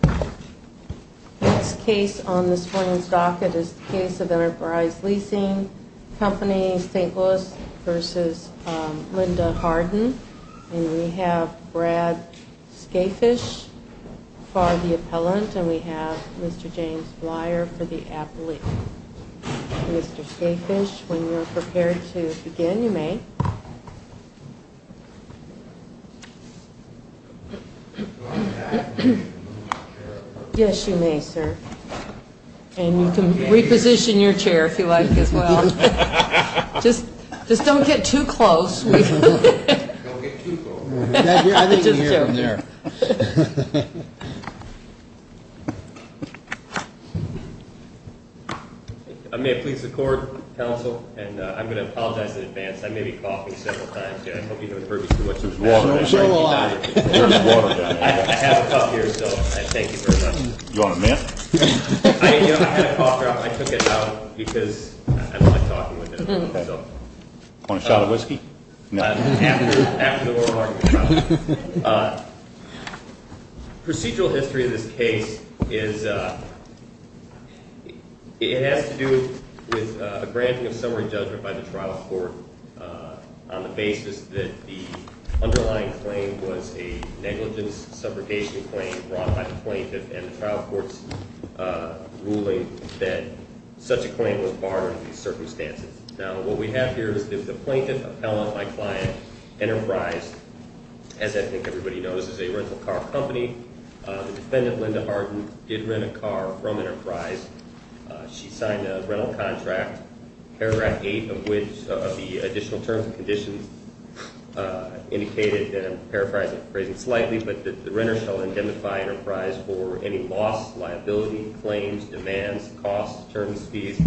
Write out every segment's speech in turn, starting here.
The next case on this morning's docket is the case of Enterprise Leasing Co. St. Louis v. Linda Hardin And we have Brad Scafish for the appellant and we have Mr. James Flyer for the appellate Mr. Scafish, when you are prepared to begin, you may Yes, you may, sir. And you can reposition your chair if you like as well. Just don't get too close. Don't get too close. I think you can hear him there. May it please the court, counsel, and I'm going to apologize in advance. I may be coughing several times here. I hope you haven't heard me too much this morning. I have a cup here, so I thank you very much. You want a mint? I had a cough drop. I took it out because I don't like talking with him. Want a shot of whiskey? After the oral argument. Procedural history of this case is, it has to do with a granting of summary judgment by the trial court on the basis that the underlying claim was a negligence subrogation claim brought by the plaintiff and the trial court's ruling that such a claim was barred in these circumstances. Now, what we have here is the plaintiff appellant, my client, Enterprise, as I think everybody knows, is a rental car company. The defendant, Linda Harden, did rent a car from Enterprise. She signed a rental contract, paragraph 8 of which of the additional terms and conditions indicated, and I'm paraphrasing slightly, but that the renter shall indemnify Enterprise for any loss, liability, claims, demands, costs, terms, fees,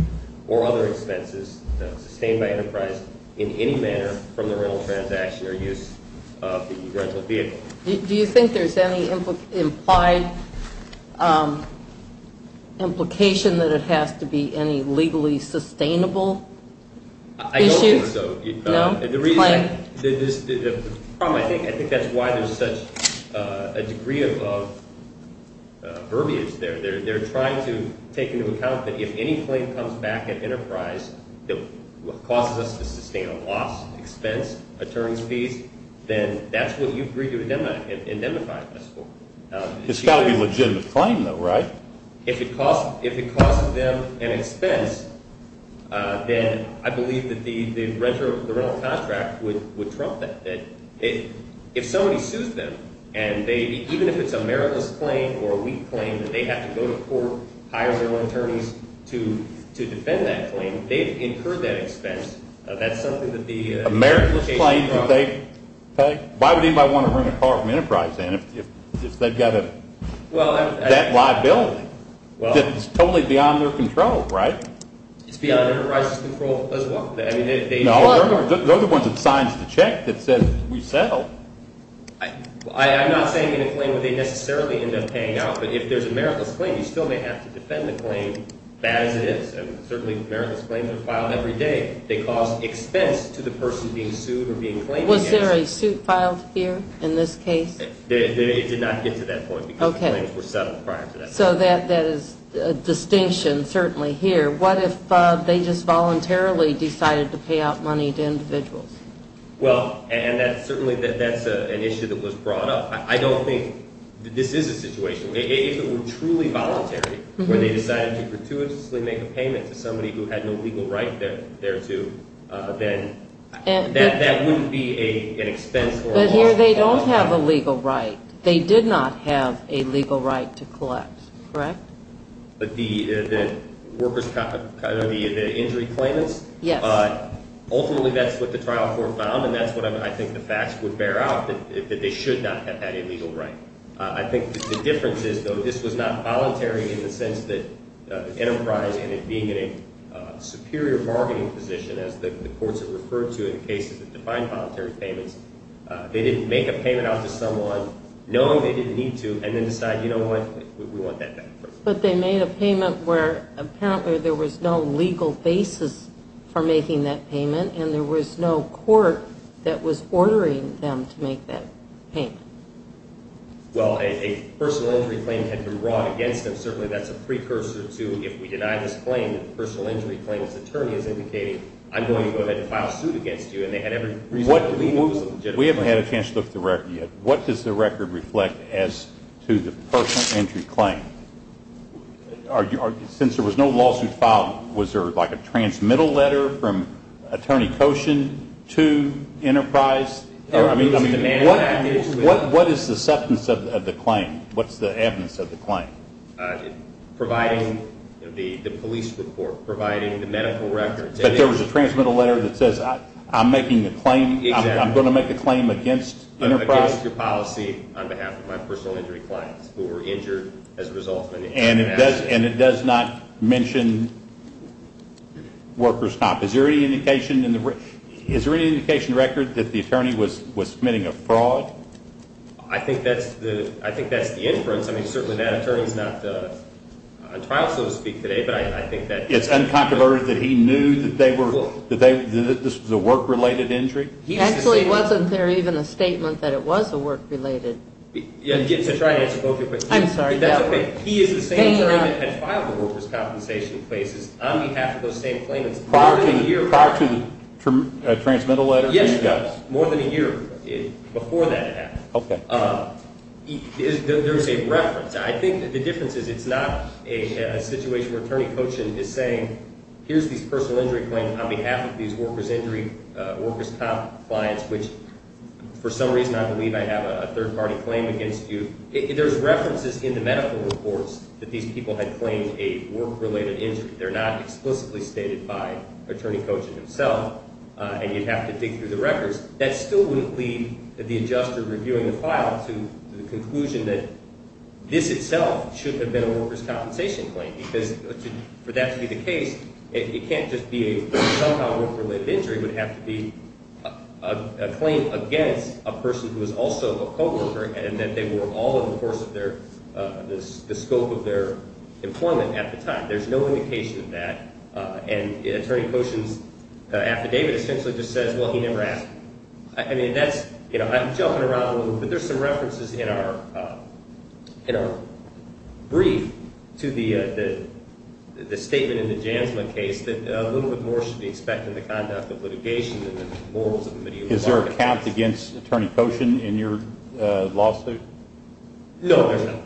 or other expenses sustained by Enterprise in any manner from the rental transaction or use of the rental vehicle. Do you think there's any implied implication that it has to be any legally sustainable issue? I don't think so. No. It's got to be a legitimate claim, though, right? If it costs them an expense, then I believe that the rental contract would trump that. If somebody sues them, and even if it's a meritless claim or a weak claim, that they have to go to court, hire their own attorneys to defend that claim, they've incurred that expense. That's something that the implication is wrong. Why would anybody want to rent a car from Enterprise then if they've got a debt liability? It's totally beyond their control, right? It's beyond Enterprise's control as well. No, they're the ones that signed the check that said we settled. I'm not saying in a claim that they necessarily end up paying out, but if there's a meritless claim, you still may have to defend the claim, bad as it is, and certainly meritless claims are filed every day. They cause expense to the person being sued or being claimed against. Was there a suit filed here in this case? It did not get to that point because the claims were settled prior to that. So that is a distinction, certainly, here. What if they just voluntarily decided to pay out money to individuals? Well, and that's certainly an issue that was brought up. I don't think this is a situation. If it were truly voluntary where they decided to gratuitously make a payment to somebody who had no legal right thereto, then that wouldn't be an expense for a lawsuit. But here they don't have a legal right. They did not have a legal right to collect, correct? But the workers' cop, the injury claimants? Yes. Ultimately, that's what the trial court found, and that's what I think the facts would bear out, that they should not have had a legal right. I think the difference is, though, this was not voluntary in the sense that Enterprise ended up being in a superior bargaining position, as the courts have referred to in cases that define voluntary payments. They didn't make a payment out to someone knowing they didn't need to and then decide, you know what, we want that back. But they made a payment where apparently there was no legal basis for making that payment, and there was no court that was ordering them to make that payment. Well, a personal injury claim had been brought against them. Certainly that's a precursor to if we deny this claim, the personal injury claim's attorney has indicated, I'm going to go ahead and file a suit against you, and they had every reason to remove them. We haven't had a chance to look at the record yet. What does the record reflect as to the personal injury claim? Since there was no lawsuit filed, was there like a transmittal letter from attorney Koshin to Enterprise? I mean, what is the substance of the claim? What's the evidence of the claim? Providing the police report, providing the medical records. But there was a transmittal letter that says, I'm making a claim, I'm going to make a claim against Enterprise? I'm making a claim against your policy on behalf of my personal injury clients who were injured as a result. And it does not mention workers' comp. Is there any indication in the record that the attorney was committing a fraud? I think that's the inference. I mean, certainly that attorney's not on trial, so to speak, today, but I think that... It's uncontroverted that he knew that this was a work-related injury? Actually, wasn't there even a statement that it was a work-related? Yeah, to try to answer both your questions. I'm sorry. That's okay. He is the same attorney that had filed the workers' compensation cases on behalf of those same claimants. Prior to the transmittal letter? Yes. More than a year before that happened. Okay. There's a reference. I think the difference is it's not a situation where Attorney Cochin is saying, here's these personal injury claims on behalf of these workers' injury, workers' comp. clients, which for some reason I believe I have a third-party claim against you. There's references in the medical reports that these people had claimed a work-related injury. They're not explicitly stated by Attorney Cochin himself, and you'd have to dig through the records. That still wouldn't lead the adjuster reviewing the file to the conclusion that this itself should have been a workers' compensation claim because for that to be the case, it can't just be a somehow work-related injury. It would have to be a claim against a person who is also a co-worker and that they were all in the course of their – the scope of their employment at the time. There's no indication of that. And Attorney Cochin's affidavit essentially just says, well, he never asked. I mean, that's – you know, I'm jumping around a little bit, but there's some references in our brief to the statement in the Jansman case that a little bit more should be expected in the conduct of litigation than the morals of the media. Is there a count against Attorney Cochin in your lawsuit? No, there's not.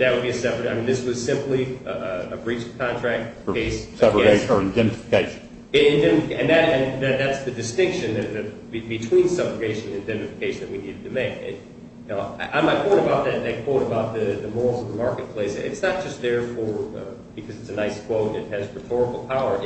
That would be a separate – I mean, this was simply a breach of contract case. Separation or indemnification. And that's the distinction between separation and indemnification that we needed to make. On my point about that – that quote about the morals of the marketplace, it's not just there for – because it's a nice quote and it has rhetorical power.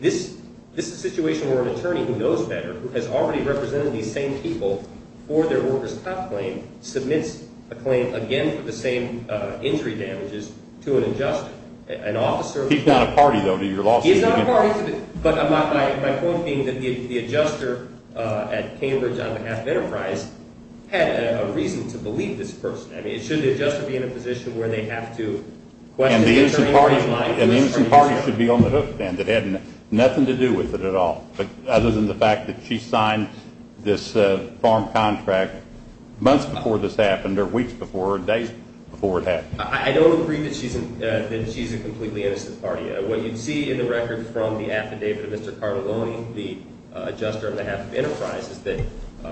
This is a situation where an attorney who knows better, who has already represented these same people for their workers' comp claim, submits a claim again for the same injury damages to an adjuster, an officer. He's not a party, though, to your lawsuit. He's not a party. But my point being that the adjuster at Cambridge on behalf of Enterprise had a reason to believe this person. I mean, should the adjuster be in a position where they have to question the attorney or his lawyer? An innocent party should be on the hook then that had nothing to do with it at all, other than the fact that she signed this farm contract months before this happened or weeks before or days before it happened. I don't agree that she's a completely innocent party. What you see in the record from the affidavit of Mr. Cardelloni, the adjuster on behalf of Enterprise, is that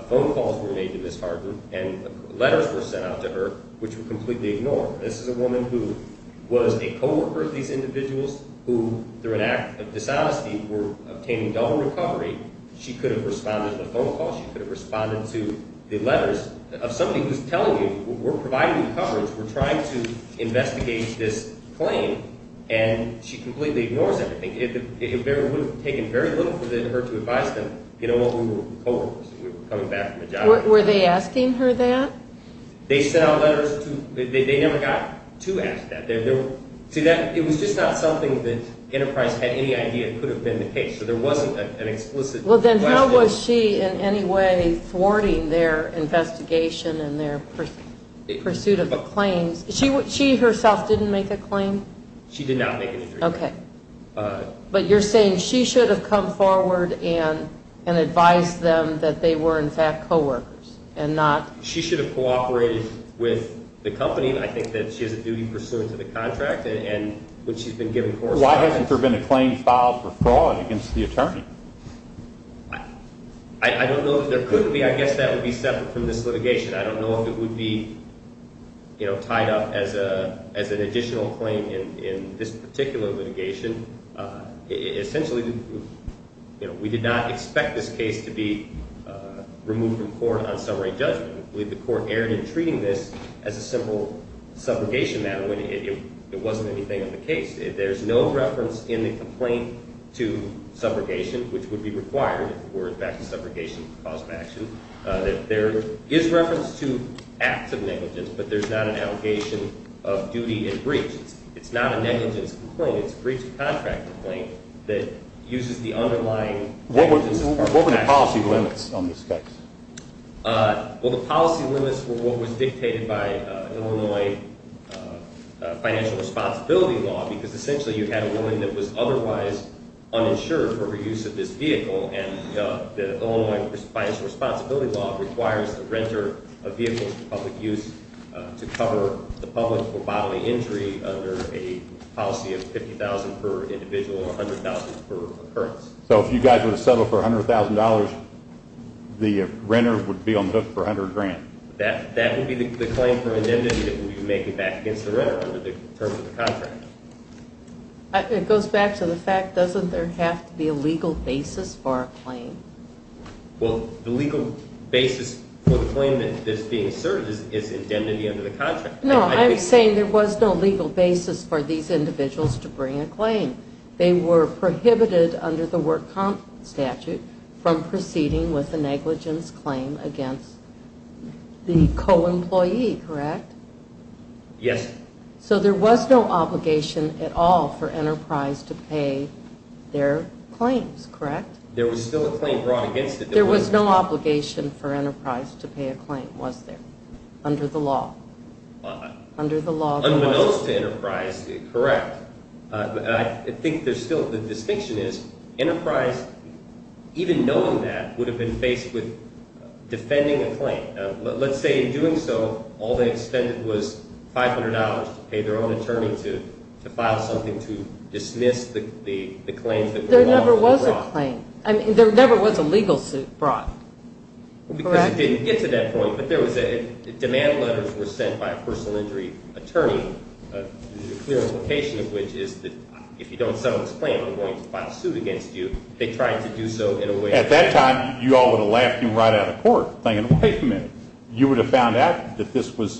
phone calls were made to Ms. Harden and letters were sent out to her which were completely ignored. This is a woman who was a co-worker of these individuals who, through an act of dishonesty, were obtaining double recovery. She could have responded to a phone call. She could have responded to the letters of somebody who's telling you, we're providing coverage. We're trying to investigate this claim. And she completely ignores everything. It would have taken very little for her to advise them, you know what, we were co-workers. We were coming back from a job interview. Were they asking her that? They sent out letters. They never got to ask that. See, it was just not something that Enterprise had any idea could have been the case. So there wasn't an explicit question. Well, then how was she in any way thwarting their investigation and their pursuit of the claims? She herself didn't make a claim? She did not make a claim. Okay. But you're saying she should have come forward and advised them that they were, in fact, co-workers and not? She should have cooperated with the company. I think that she has a duty pursuant to the contract and what she's been given correspondence. Why hasn't there been a claim filed for fraud against the attorney? I don't know if there could be. I guess that would be separate from this litigation. I don't know if it would be tied up as an additional claim in this particular litigation. Essentially, we did not expect this case to be removed from court on summary judgment. I believe the court erred in treating this as a simple subrogation matter when it wasn't anything of the case. There's no reference in the complaint to subrogation, which would be required if it were, in fact, a subrogation cause of action. There is reference to acts of negligence, but there's not an allegation of duty and breach. It's not a negligence complaint. It's a breach of contract complaint that uses the underlying… What were the policy limits on this case? Well, the policy limits were what was dictated by Illinois financial responsibility law because essentially you had a woman that was otherwise uninsured for her use of this vehicle, and the Illinois financial responsibility law requires the renter of vehicles for public use to cover the public for bodily injury under a policy of $50,000 per individual or $100,000 per occurrence. So if you guys were to settle for $100,000, the renter would be on the hook for $100,000? That would be the claim for indemnity that we would be making back against the renter under the terms of the contract. It goes back to the fact, doesn't there have to be a legal basis for a claim? Well, the legal basis for the claim that is being asserted is indemnity under the contract. No, I'm saying there was no legal basis for these individuals to bring a claim. They were prohibited under the work comp statute from proceeding with a negligence claim against the co-employee, correct? Yes. So there was no obligation at all for Enterprise to pay their claims, correct? There was still a claim brought against it. There was no obligation for Enterprise to pay a claim, was there, under the law? Unbeknownst to Enterprise, correct. I think there's still – the distinction is Enterprise, even knowing that, would have been faced with defending a claim. Let's say in doing so, all they expended was $500 to pay their own attorney to file something to dismiss the claims that were brought. There was a claim. I mean, there never was a legal suit brought, correct? Because it didn't get to that point, but there was a – demand letters were sent by a personal injury attorney, the clear implication of which is that if you don't settle this claim, I'm going to file a suit against you. They tried to do so in a way – At that time, you all would have laughed him right out of court, thinking, wait a minute, you would have found out that this was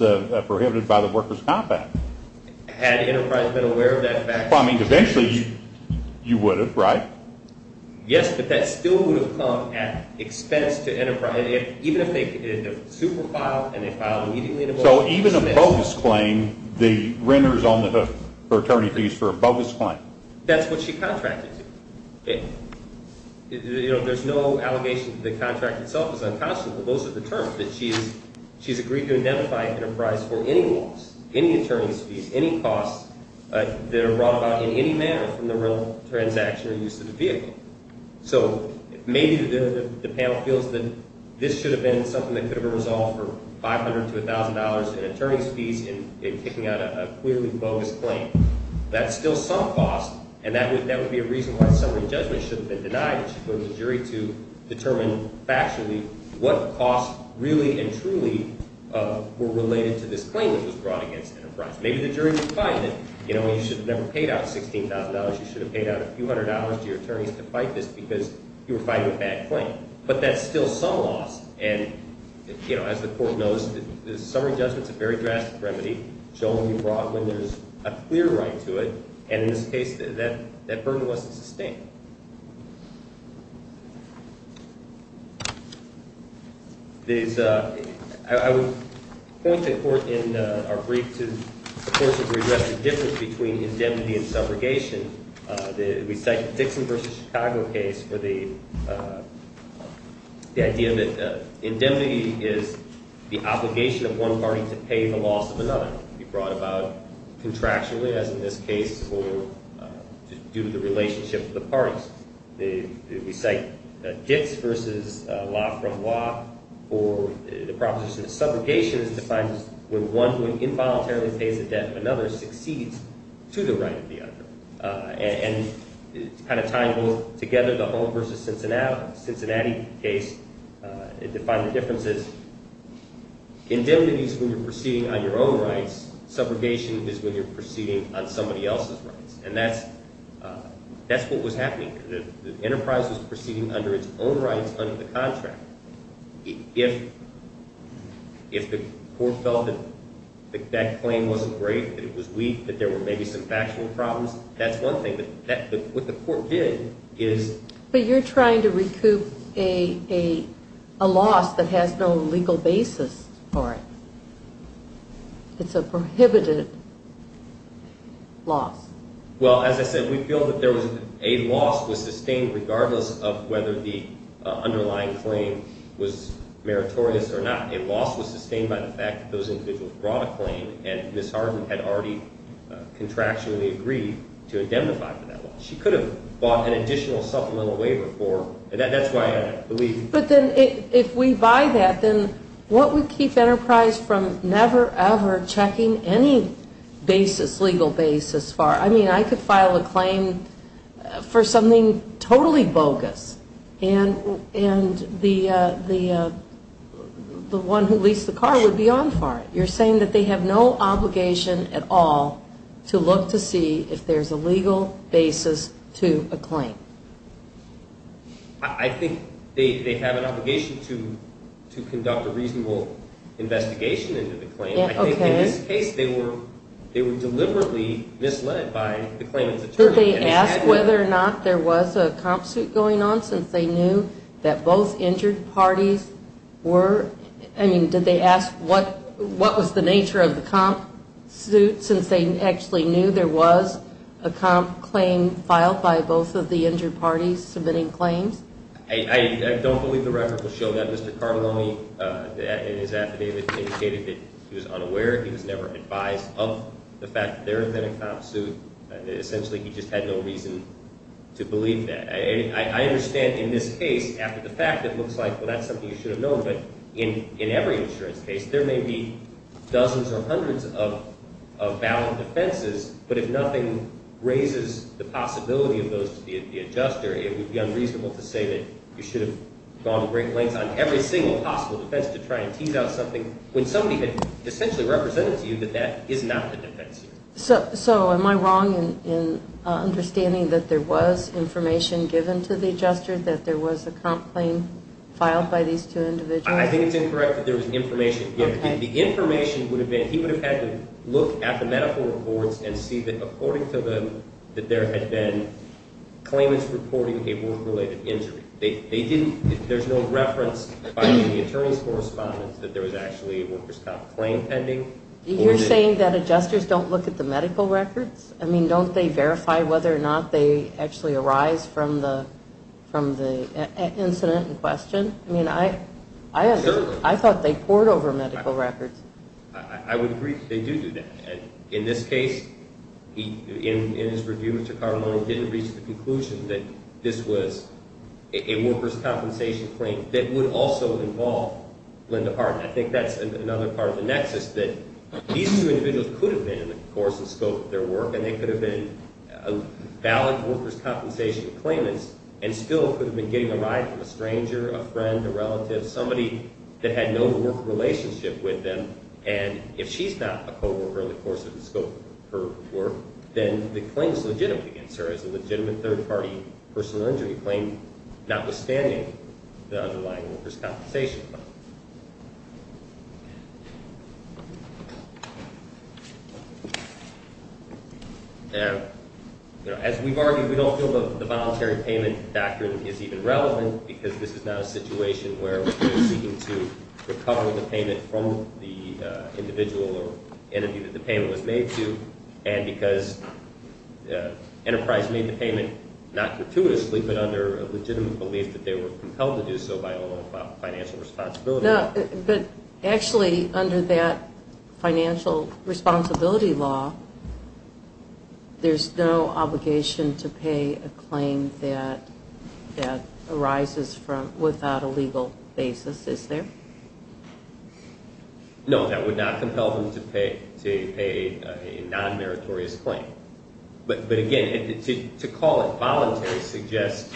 prohibited by the workers' compact. Had Enterprise been aware of that fact? Well, I mean, eventually you would have, right? Yes, but that still would have come at expense to Enterprise. Even if they did a super file and they filed immediately – So even a bogus claim, the renter is on the hook for attorney fees for a bogus claim. That's what she contracted to. There's no allegation that the contract itself is unconscionable. Those are the terms that she's agreed to identify Enterprise for any loss, any attorney's fees, any costs that are brought about in any manner from the real transaction or use of the vehicle. So maybe the panel feels that this should have been something that could have been resolved for $500 to $1,000 in attorney's fees in picking out a clearly bogus claim. That's still some cost, and that would be a reason why summary judgment should have been denied. It should have been the jury to determine factually what costs really and truly were related to this claim that was brought against Enterprise. Maybe the jury would find that you should have never paid out $16,000. You should have paid out a few hundred dollars to your attorneys to fight this because you were fighting a bad claim. But that's still some loss, and as the court knows, the summary judgment is a very drastic remedy. It shouldn't be brought when there's a clear right to it, and in this case, that burden wasn't sustained. I would point the court in our brief to the court's regret for the difference between indemnity and subrogation. We cite the Dixon v. Chicago case for the idea that indemnity is the obligation of one party to pay the loss of another. It can be brought about contractually, as in this case, or due to the relationship of the parties. We cite Dix v. Laframboise for the proposition that subrogation is defined as when one who involuntarily pays the debt of another succeeds to the right of the other. And it's kind of tying both together, the Holmes v. Cincinnati case. It defined the differences. Indemnity is when you're proceeding on your own rights. Subrogation is when you're proceeding on somebody else's rights, and that's what was happening. The Enterprise was proceeding under its own rights under the contract. If the court felt that that claim wasn't great, that it was weak, that there were maybe some factual problems, that's one thing. What the court did is— But you're trying to recoup a loss that has no legal basis for it. It's a prohibited loss. Well, as I said, we feel that a loss was sustained regardless of whether the underlying claim was meritorious or not. A loss was sustained by the fact that those individuals brought a claim, and Ms. Harden had already contractually agreed to indemnify for that loss. She could have bought an additional supplemental waiver for—that's why I believe— But then if we buy that, then what would keep Enterprise from never ever checking any basis, legal basis for it? I mean, I could file a claim for something totally bogus, and the one who leased the car would be on for it. You're saying that they have no obligation at all to look to see if there's a legal basis to a claim. I think they have an obligation to conduct a reasonable investigation into the claim. I think in this case, they were deliberately misled by the claimant's attorney. Did they ask whether or not there was a comp suit going on, since they knew that both injured parties were— I mean, did they ask what was the nature of the comp suit, since they actually knew there was a comp claim filed by both of the injured parties submitting claims? I don't believe the record will show that. Mr. Carbononi, in his affidavit, indicated that he was unaware. He was never advised of the fact that there had been a comp suit. Essentially, he just had no reason to believe that. I understand in this case, after the fact, it looks like, well, that's something you should have known. But in every insurance case, there may be dozens or hundreds of valid defenses, but if nothing raises the possibility of those to be at the adjuster, it would be unreasonable to say that you should have gone to great lengths on every single possible defense to try and tease out something when somebody had essentially represented to you that that is not the defense. So am I wrong in understanding that there was information given to the adjuster, that there was a comp claim filed by these two individuals? I think it's incorrect that there was information given. The information would have been he would have had to look at the medical reports and see that according to them that there had been claimants reporting a work-related injury. There's no reference by the attorney's correspondence that there was actually a workers' comp claim pending. You're saying that adjusters don't look at the medical records? I mean, don't they verify whether or not they actually arise from the incident in question? I mean, I thought they pored over medical records. I would agree that they do do that. In this case, in his review, Mr. Carmine didn't reach the conclusion that this was a workers' compensation claim that would also involve Linda Parton. I think that's another part of the nexus that these two individuals could have been, of course, in the scope of their work, and they could have been valid workers' compensation claimants and still could have been getting a ride from a stranger, a friend, a relative, somebody that had no work relationship with them. And if she's not a co-worker in the course of the scope of her work, then the claim is legitimate against her as a legitimate third-party personal injury claim, notwithstanding the underlying workers' compensation claim. As we've argued, we don't feel the voluntary payment doctrine is even relevant because this is not a situation where we're seeking to recover the payment from the individual or entity that the payment was made to, and because Enterprise made the payment not gratuitously but under a legitimate belief that they were compelled to do so by all financial responsibility. No, but actually under that financial responsibility law, there's no obligation to pay a claim that arises without a legal basis, is there? No, that would not compel them to pay a non-meritorious claim. But again, to call it voluntary suggests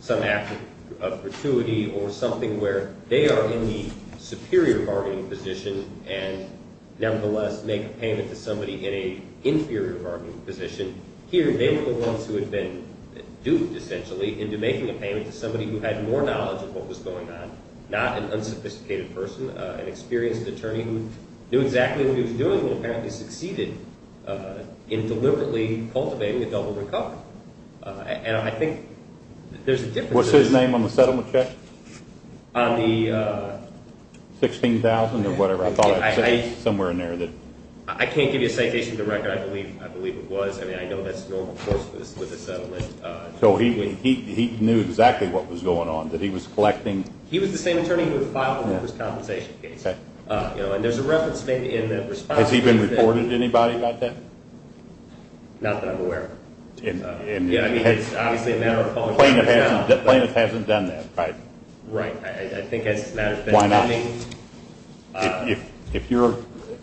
some act of gratuity or something where they are in the superior bargaining position and nevertheless make a payment to somebody in an inferior bargaining position. Here, they were the ones who had been duped, essentially, into making a payment to somebody who had more knowledge of what was going on, not an unsophisticated person, an experienced attorney who knew exactly what he was doing and apparently succeeded in deliberately cultivating a double recovery. And I think there's a difference. What's his name on the settlement check? On the… 16,000 or whatever. I thought I saw it somewhere in there. I can't give you a citation of the record. I believe it was. I mean, I know that's the normal course with a settlement. So he knew exactly what was going on, that he was collecting… He was the same attorney who had filed the first compensation case. And there's a reference maybe in the response… Has he been reported to anybody about that? Not that I'm aware of. Yeah, I mean, it's obviously a matter of… Plaintiff hasn't done that, right? Right. I think as this matter is pending… Why not? If your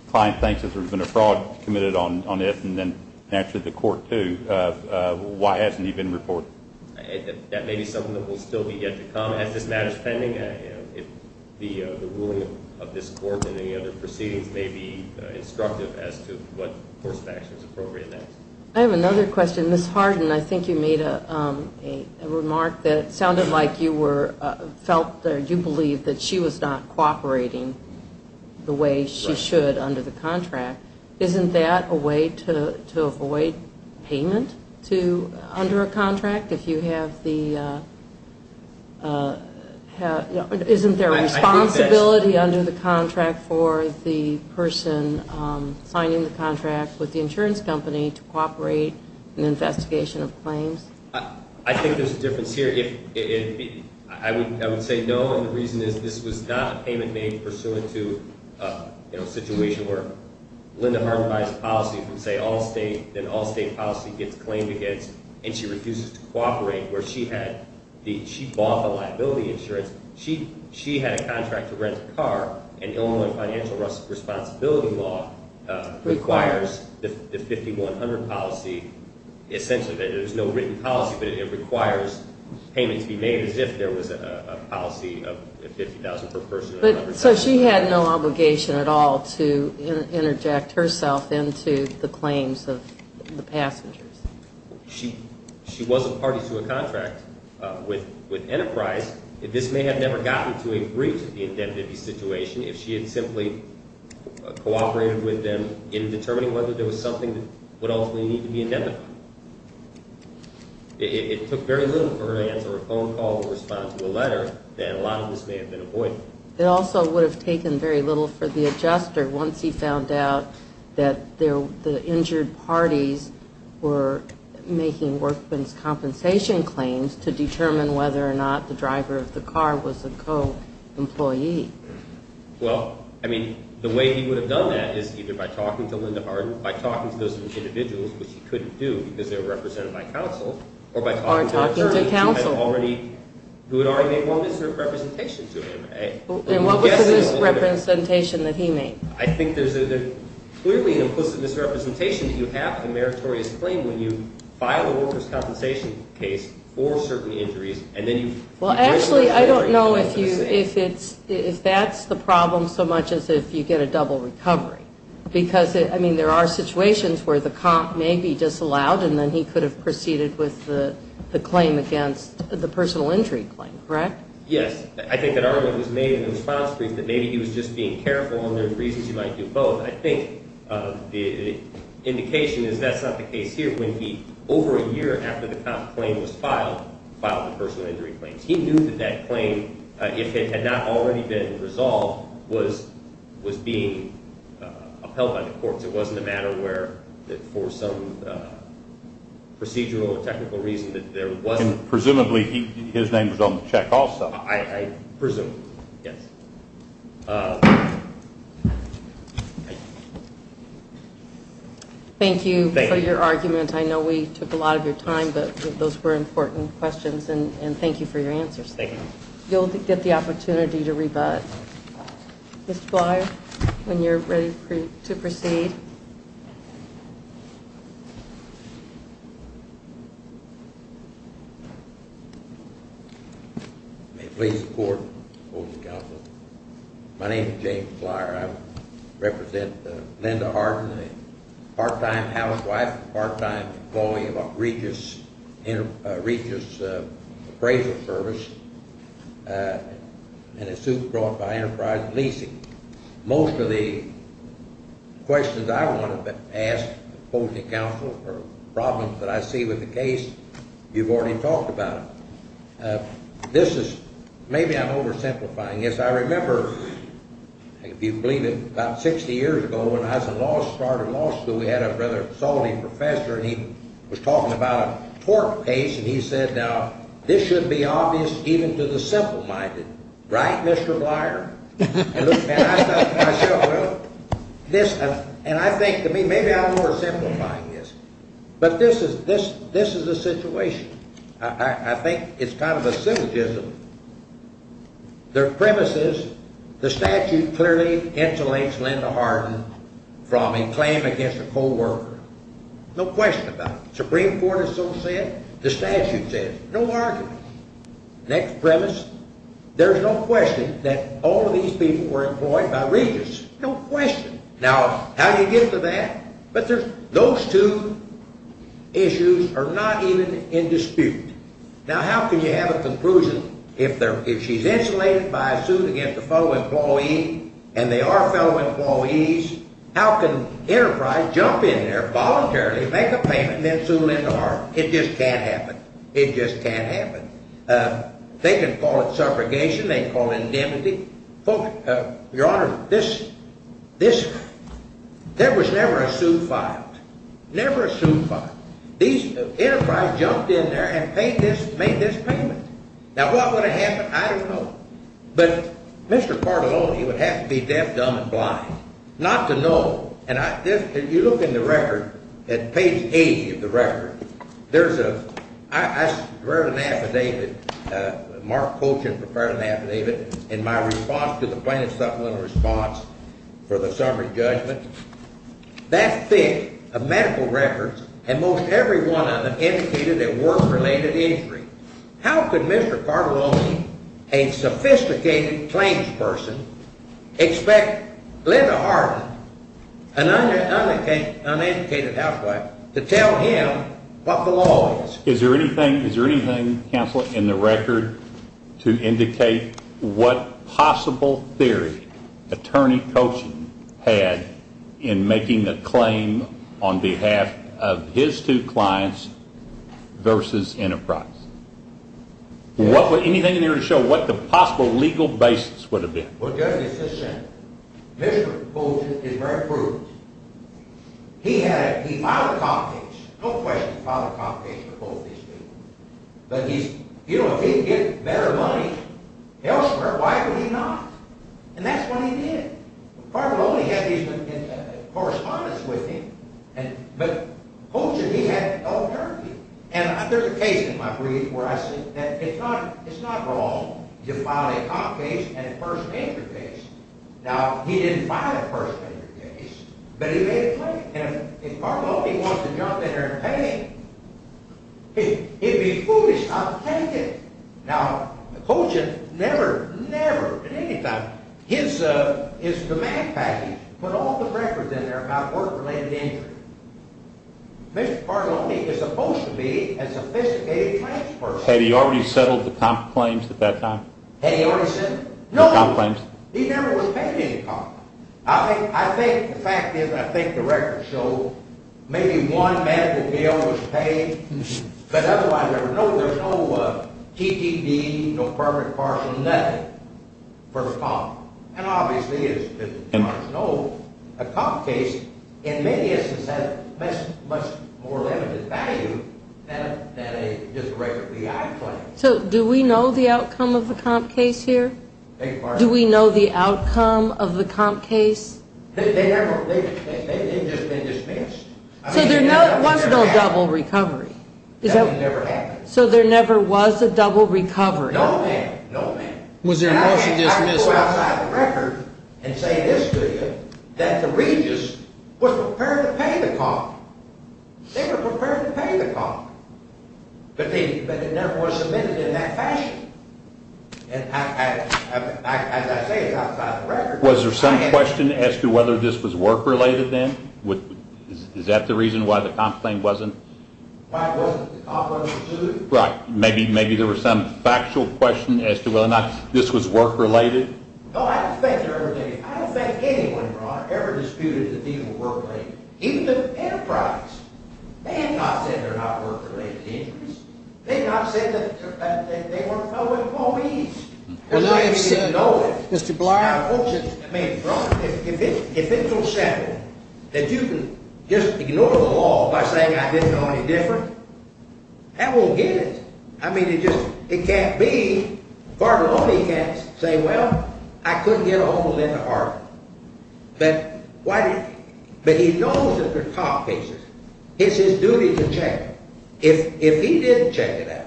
client thinks that there's been a fraud committed on it and then actually the court, too, why hasn't he been reported? That may be something that will still be yet to come. As this matter is pending, the ruling of this court and any other proceedings may be instructive as to what course of action is appropriate next. I have another question. Ms. Harden, I think you made a remark that sounded like you were… felt or you believed that she was not cooperating the way she should under the contract. Isn't that a way to avoid payment under a contract if you have the… Isn't there a responsibility under the contract for the person signing the contract with the insurance company to cooperate in the investigation of claims? I think there's a difference here. I would say no, and the reason is this was not a payment made pursuant to a situation where Linda Harden buys policy from, say, Allstate, then Allstate policy gets claimed against and she refuses to cooperate where she bought the liability insurance. She had a contract to rent a car, and Illinois financial responsibility law requires the 5100 policy. Essentially, there's no written policy, but it requires payment to be made as if there was a policy of $50,000 per person. So she had no obligation at all to interject herself into the claims of the passengers. She wasn't party to a contract with Enterprise. This may have never gotten to a brief to the indemnity situation if she had simply cooperated with them in determining whether there was something that would ultimately need to be indemnified. It took very little for her to answer a phone call or respond to a letter, and a lot of this may have been avoided. It also would have taken very little for the adjuster, once he found out that the injured parties were making workman's compensation claims to determine whether or not the driver of the car was a co-employee. Well, I mean, the way he would have done that is either by talking to Linda Harden, by talking to those individuals, which he couldn't do because they were represented by counsel, or by talking to attorneys who had already made one misrepresentation to him. And what was the misrepresentation that he made? I think there's clearly an implicit misrepresentation that you have in the meritorious claim when you file a worker's compensation case for certain injuries, and then you... Well, actually, I don't know if that's the problem so much as if you get a double recovery. Because, I mean, there are situations where the comp may be disallowed, and then he could have proceeded with the claim against the personal injury claim, correct? Yes. I think that argument was made in the response brief that maybe he was just being careful, and there's reasons you might do both. I think the indication is that's not the case here. When he, over a year after the comp claim was filed, filed the personal injury claims. He knew that that claim, if it had not already been resolved, was being upheld by the courts. It wasn't a matter where, for some procedural or technical reason, that there was... Presumably, his name was on the check also. I presume, yes. Thank you for your argument. I know we took a lot of your time, but those were important questions, and thank you for your answers. Thank you. You'll get the opportunity to rebut. Mr. Flyer, when you're ready to proceed. May it please the Court and the Council. My name is James Flyer. I represent Linda Harden, a part-time housewife, part-time employee of a Regis appraisal service, and a suit brought by Enterprise Leasing. Most of the questions I want to ask both the Council for problems that I see with the case, you've already talked about. This is, maybe I'm oversimplifying. Yes, I remember, if you believe it, about 60 years ago, when Eisenhower started law school, we had a rather salty professor, and he was talking about a tort case, and he said, now, this should be obvious even to the simple-minded. Right, Mr. Flyer? And I thought to myself, well, this, and I think to me, maybe I'm oversimplifying this. But this is a situation. I think it's kind of a syllogism. The premise is, the statute clearly insulates Linda Harden from a claim against a co-worker. No question about it. The Supreme Court has so said. The statute says. No argument. Next premise, there's no question that all of these people were employed by Regis. No question. Now, how do you get to that? But those two issues are not even in dispute. Now, how can you have a conclusion if she's insulated by a suit against a fellow employee, and they are fellow employees, how can Enterprise jump in there voluntarily, make a payment, and then sue Linda Harden? It just can't happen. It just can't happen. They can call it subrogation. They can call it indemnity. Your Honor, there was never a suit filed. Never a suit filed. Enterprise jumped in there and made this payment. Now, what would have happened? I don't know. But Mr. Cardelloni would have to be deaf, dumb, and blind not to know. And you look in the record at page 80 of the record. There's a ‑‑ I read an affidavit, Mark Colchin prepared an affidavit in my response to the plaintiff's supplemental response for the summary judgment. That thick of medical records, and most every one of them indicated a work‑related injury. How could Mr. Cardelloni, a sophisticated claims person, expect Linda Harden, an uneducated housewife, to tell him what the law is? Anything in there to show what the possible legal basis would have been? Well, Judge, it's just simple. Mr. Colchin is very prudent. He filed a comp case. No question he filed a comp case for both these people. But if he can get better money elsewhere, why can he not? And that's what he did. Cardelloni had correspondence with him. But Colchin, he had an alternative. And there's a case in my brief where I say that it's not wrong to file a comp case and a first‑degree case. Now, he didn't file a first‑degree case, but he made a claim. And if Cardelloni wants to jump in there and pay him, it would be foolish not to take it. Now, Colchin never, never at any time, his demand package put all the records in there about work‑related injuries. Mr. Cardelloni is supposed to be a sophisticated trans person. Had he already settled the comp claims at that time? Had he already settled the comp claims? No, he never was paid any comp. I think the fact is, I think the records show, maybe one medical bill was paid. But otherwise, no, there's no TPD, no permanent partial, nothing for the comp. And obviously, as you know, a comp case, in many instances, has much more limited value than just a record B.I. claim. So do we know the outcome of the comp case here? Do we know the outcome of the comp case? They never, they've just been dismissed. So there was no double recovery? That never happened. So there never was a double recovery? No, ma'am. No, ma'am. Was there a motion to dismiss? I can go outside the record and say this to you, that the Regis was prepared to pay the comp. They were prepared to pay the comp. But it never was submitted in that fashion. As I say, it's outside the record. Was there some question as to whether this was work‑related then? Is that the reason why the comp claim wasn't? Why it wasn't, the comp wasn't due. Right. Maybe there was some factual question as to whether or not this was work‑related. No, I don't think anyone ever disputed that these were work‑related. Even the enterprise. They have not said they're not work‑related injuries. They have not said that they weren't public employees. Well, now you've said, Mr. Blight. If it's so sad that you can just ignore the law by saying I didn't know any different, I won't get it. I mean, it can't be. Bartolone can't say, well, I couldn't get a hold of Linda Harper. But he knows that they're comp cases. It's his duty to check. If he didn't check it out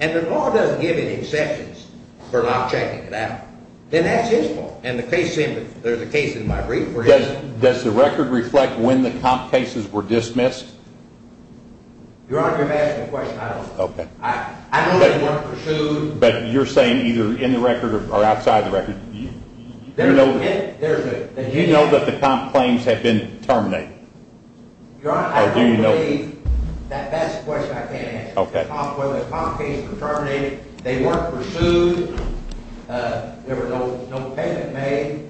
and the law doesn't give any exceptions for not checking it out, then that's his fault. And the case ‑‑ there's a case in my brief for him. Does the record reflect when the comp cases were dismissed? Your Honor, you're asking a question I don't know. Okay. I know they weren't pursued. But you're saying either in the record or outside the record. You know that the comp claims have been terminated? Your Honor, I can't believe that that's a question I can't answer. Okay. Whether the comp case was terminated, they weren't pursued, there was no payment made.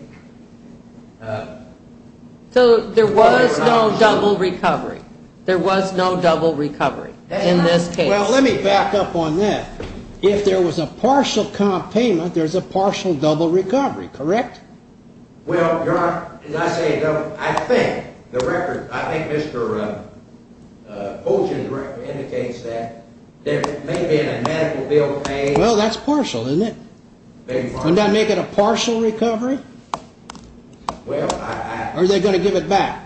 So there was no double recovery. There was no double recovery in this case. Well, let me back up on that. If there was a partial comp payment, there's a partial double recovery, correct? Well, Your Honor, as I say, I think the record, I think Mr. Colchin's record indicates that there may have been a medical bill paid. Well, that's partial, isn't it? Wouldn't that make it a partial recovery? Well, I ‑‑ Or are they going to give it back?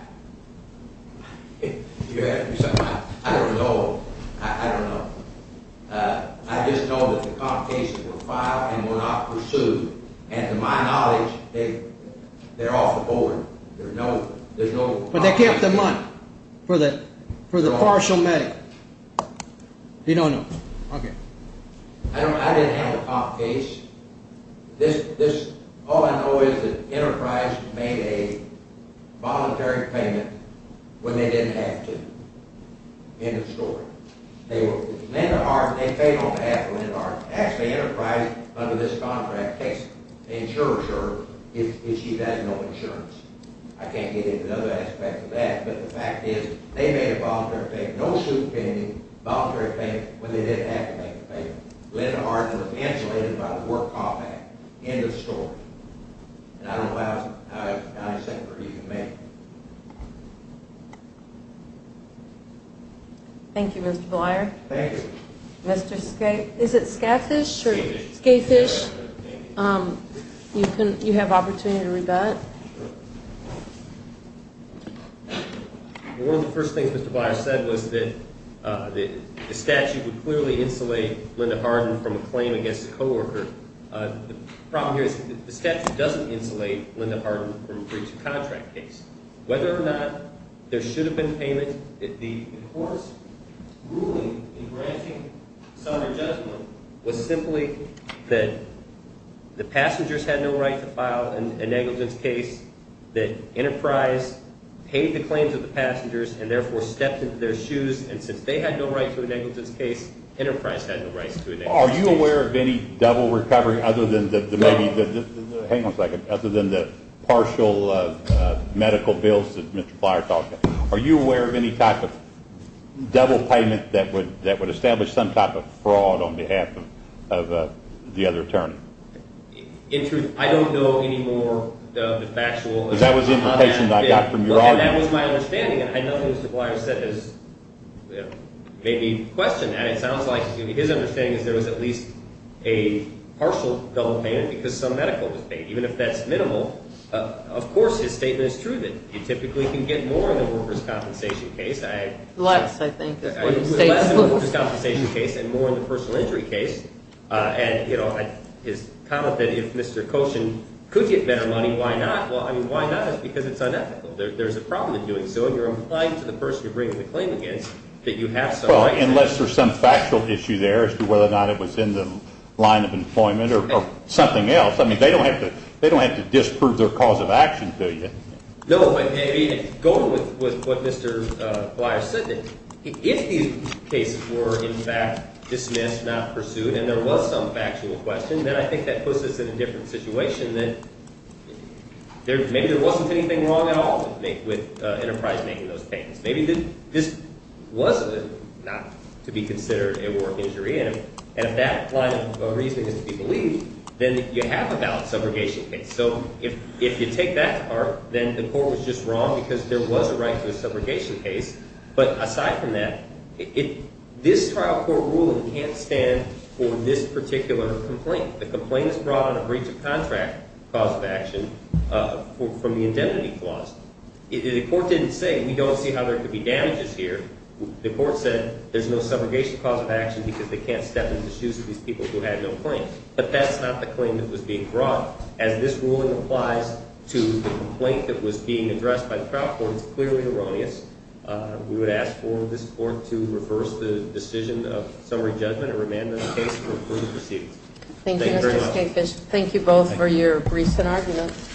You're asking me something I don't know. I don't know. I just know that the comp cases were filed and were not pursued. And to my knowledge, they're off the board. There's no ‑‑ But they kept the money for the partial medical. You don't know. Okay. I didn't have a comp case. All I know is that Enterprise made a voluntary payment when they didn't have to in the story. Linda Hart, they paid on behalf of Linda Hart. Actually, Enterprise, under this contract, insures her if she has no insurance. I can't get into other aspects of that, but the fact is they made a voluntary payment. No suit pending, voluntary payment, when they didn't have to make the payment. Linda Hart was insulated by the Work Call Act. End of story. And I don't know how I was going to separate you from me. Thank you. Thank you, Mr. Blyer. Thank you. Mr. Skafish. Is it Skafish? Skafish. Skafish. Thank you. You have opportunity to rebut. One of the first things Mr. Blyer said was that the statute would clearly insulate Linda Hart from a claim against a coworker. The problem here is the statute doesn't insulate Linda Hart from a breach of contract case. Whether or not there should have been payment, the court's ruling in granting summary judgment was simply that the passengers had no right to file a negligence case, that Enterprise paid the claims of the passengers and therefore stepped into their shoes, and since they had no right to a negligence case, Enterprise had no right to a negligence case. Are you aware of any double recovery other than the partial medical bills that Mr. Blyer talked about? Are you aware of any type of double payment that would establish some type of fraud on behalf of the other attorney? In truth, I don't know any more of the factual. Because that was the indication I got from your argument. And that was my understanding, and I know Mr. Blyer made me question that. And it sounds like his understanding is there was at least a partial double payment because some medical was paid. Even if that's minimal, of course his statement is true that you typically can get more in the workers' compensation case. Less, I think. Less in the workers' compensation case and more in the personal injury case. And his comment that if Mr. Koshin could get better money, why not? Well, I mean, why not is because it's unethical. There's a problem in doing so, and you're implying to the person you're bringing the claim against that you have some money. Well, unless there's some factual issue there as to whether or not it was in the line of employment or something else. I mean, they don't have to disprove their cause of action, do you? No, I mean, going with what Mr. Blyer said, if these cases were, in fact, dismissed, not pursued, and there was some factual question, then I think that puts us in a different situation, that maybe there wasn't anything wrong at all with Enterprise making those payments. Maybe this was not to be considered a work injury. And if that line of reasoning is to be believed, then you have a valid subrogation case. So if you take that to heart, then the court was just wrong because there was a right to a subrogation case. But aside from that, this trial court ruling can't stand for this particular complaint. The complaint is brought on a breach of contract cause of action from the indemnity clause. The court didn't say, we don't see how there could be damages here. The court said there's no subrogation cause of action because they can't step in the shoes of these people who had no claim. But that's not the claim that was being brought. As this ruling applies to the complaint that was being addressed by the trial court, it's clearly erroneous. We would ask for this court to reverse the decision of summary judgment and remand this case for further proceedings. Thank you very much. Thank you both for your briefs and arguments.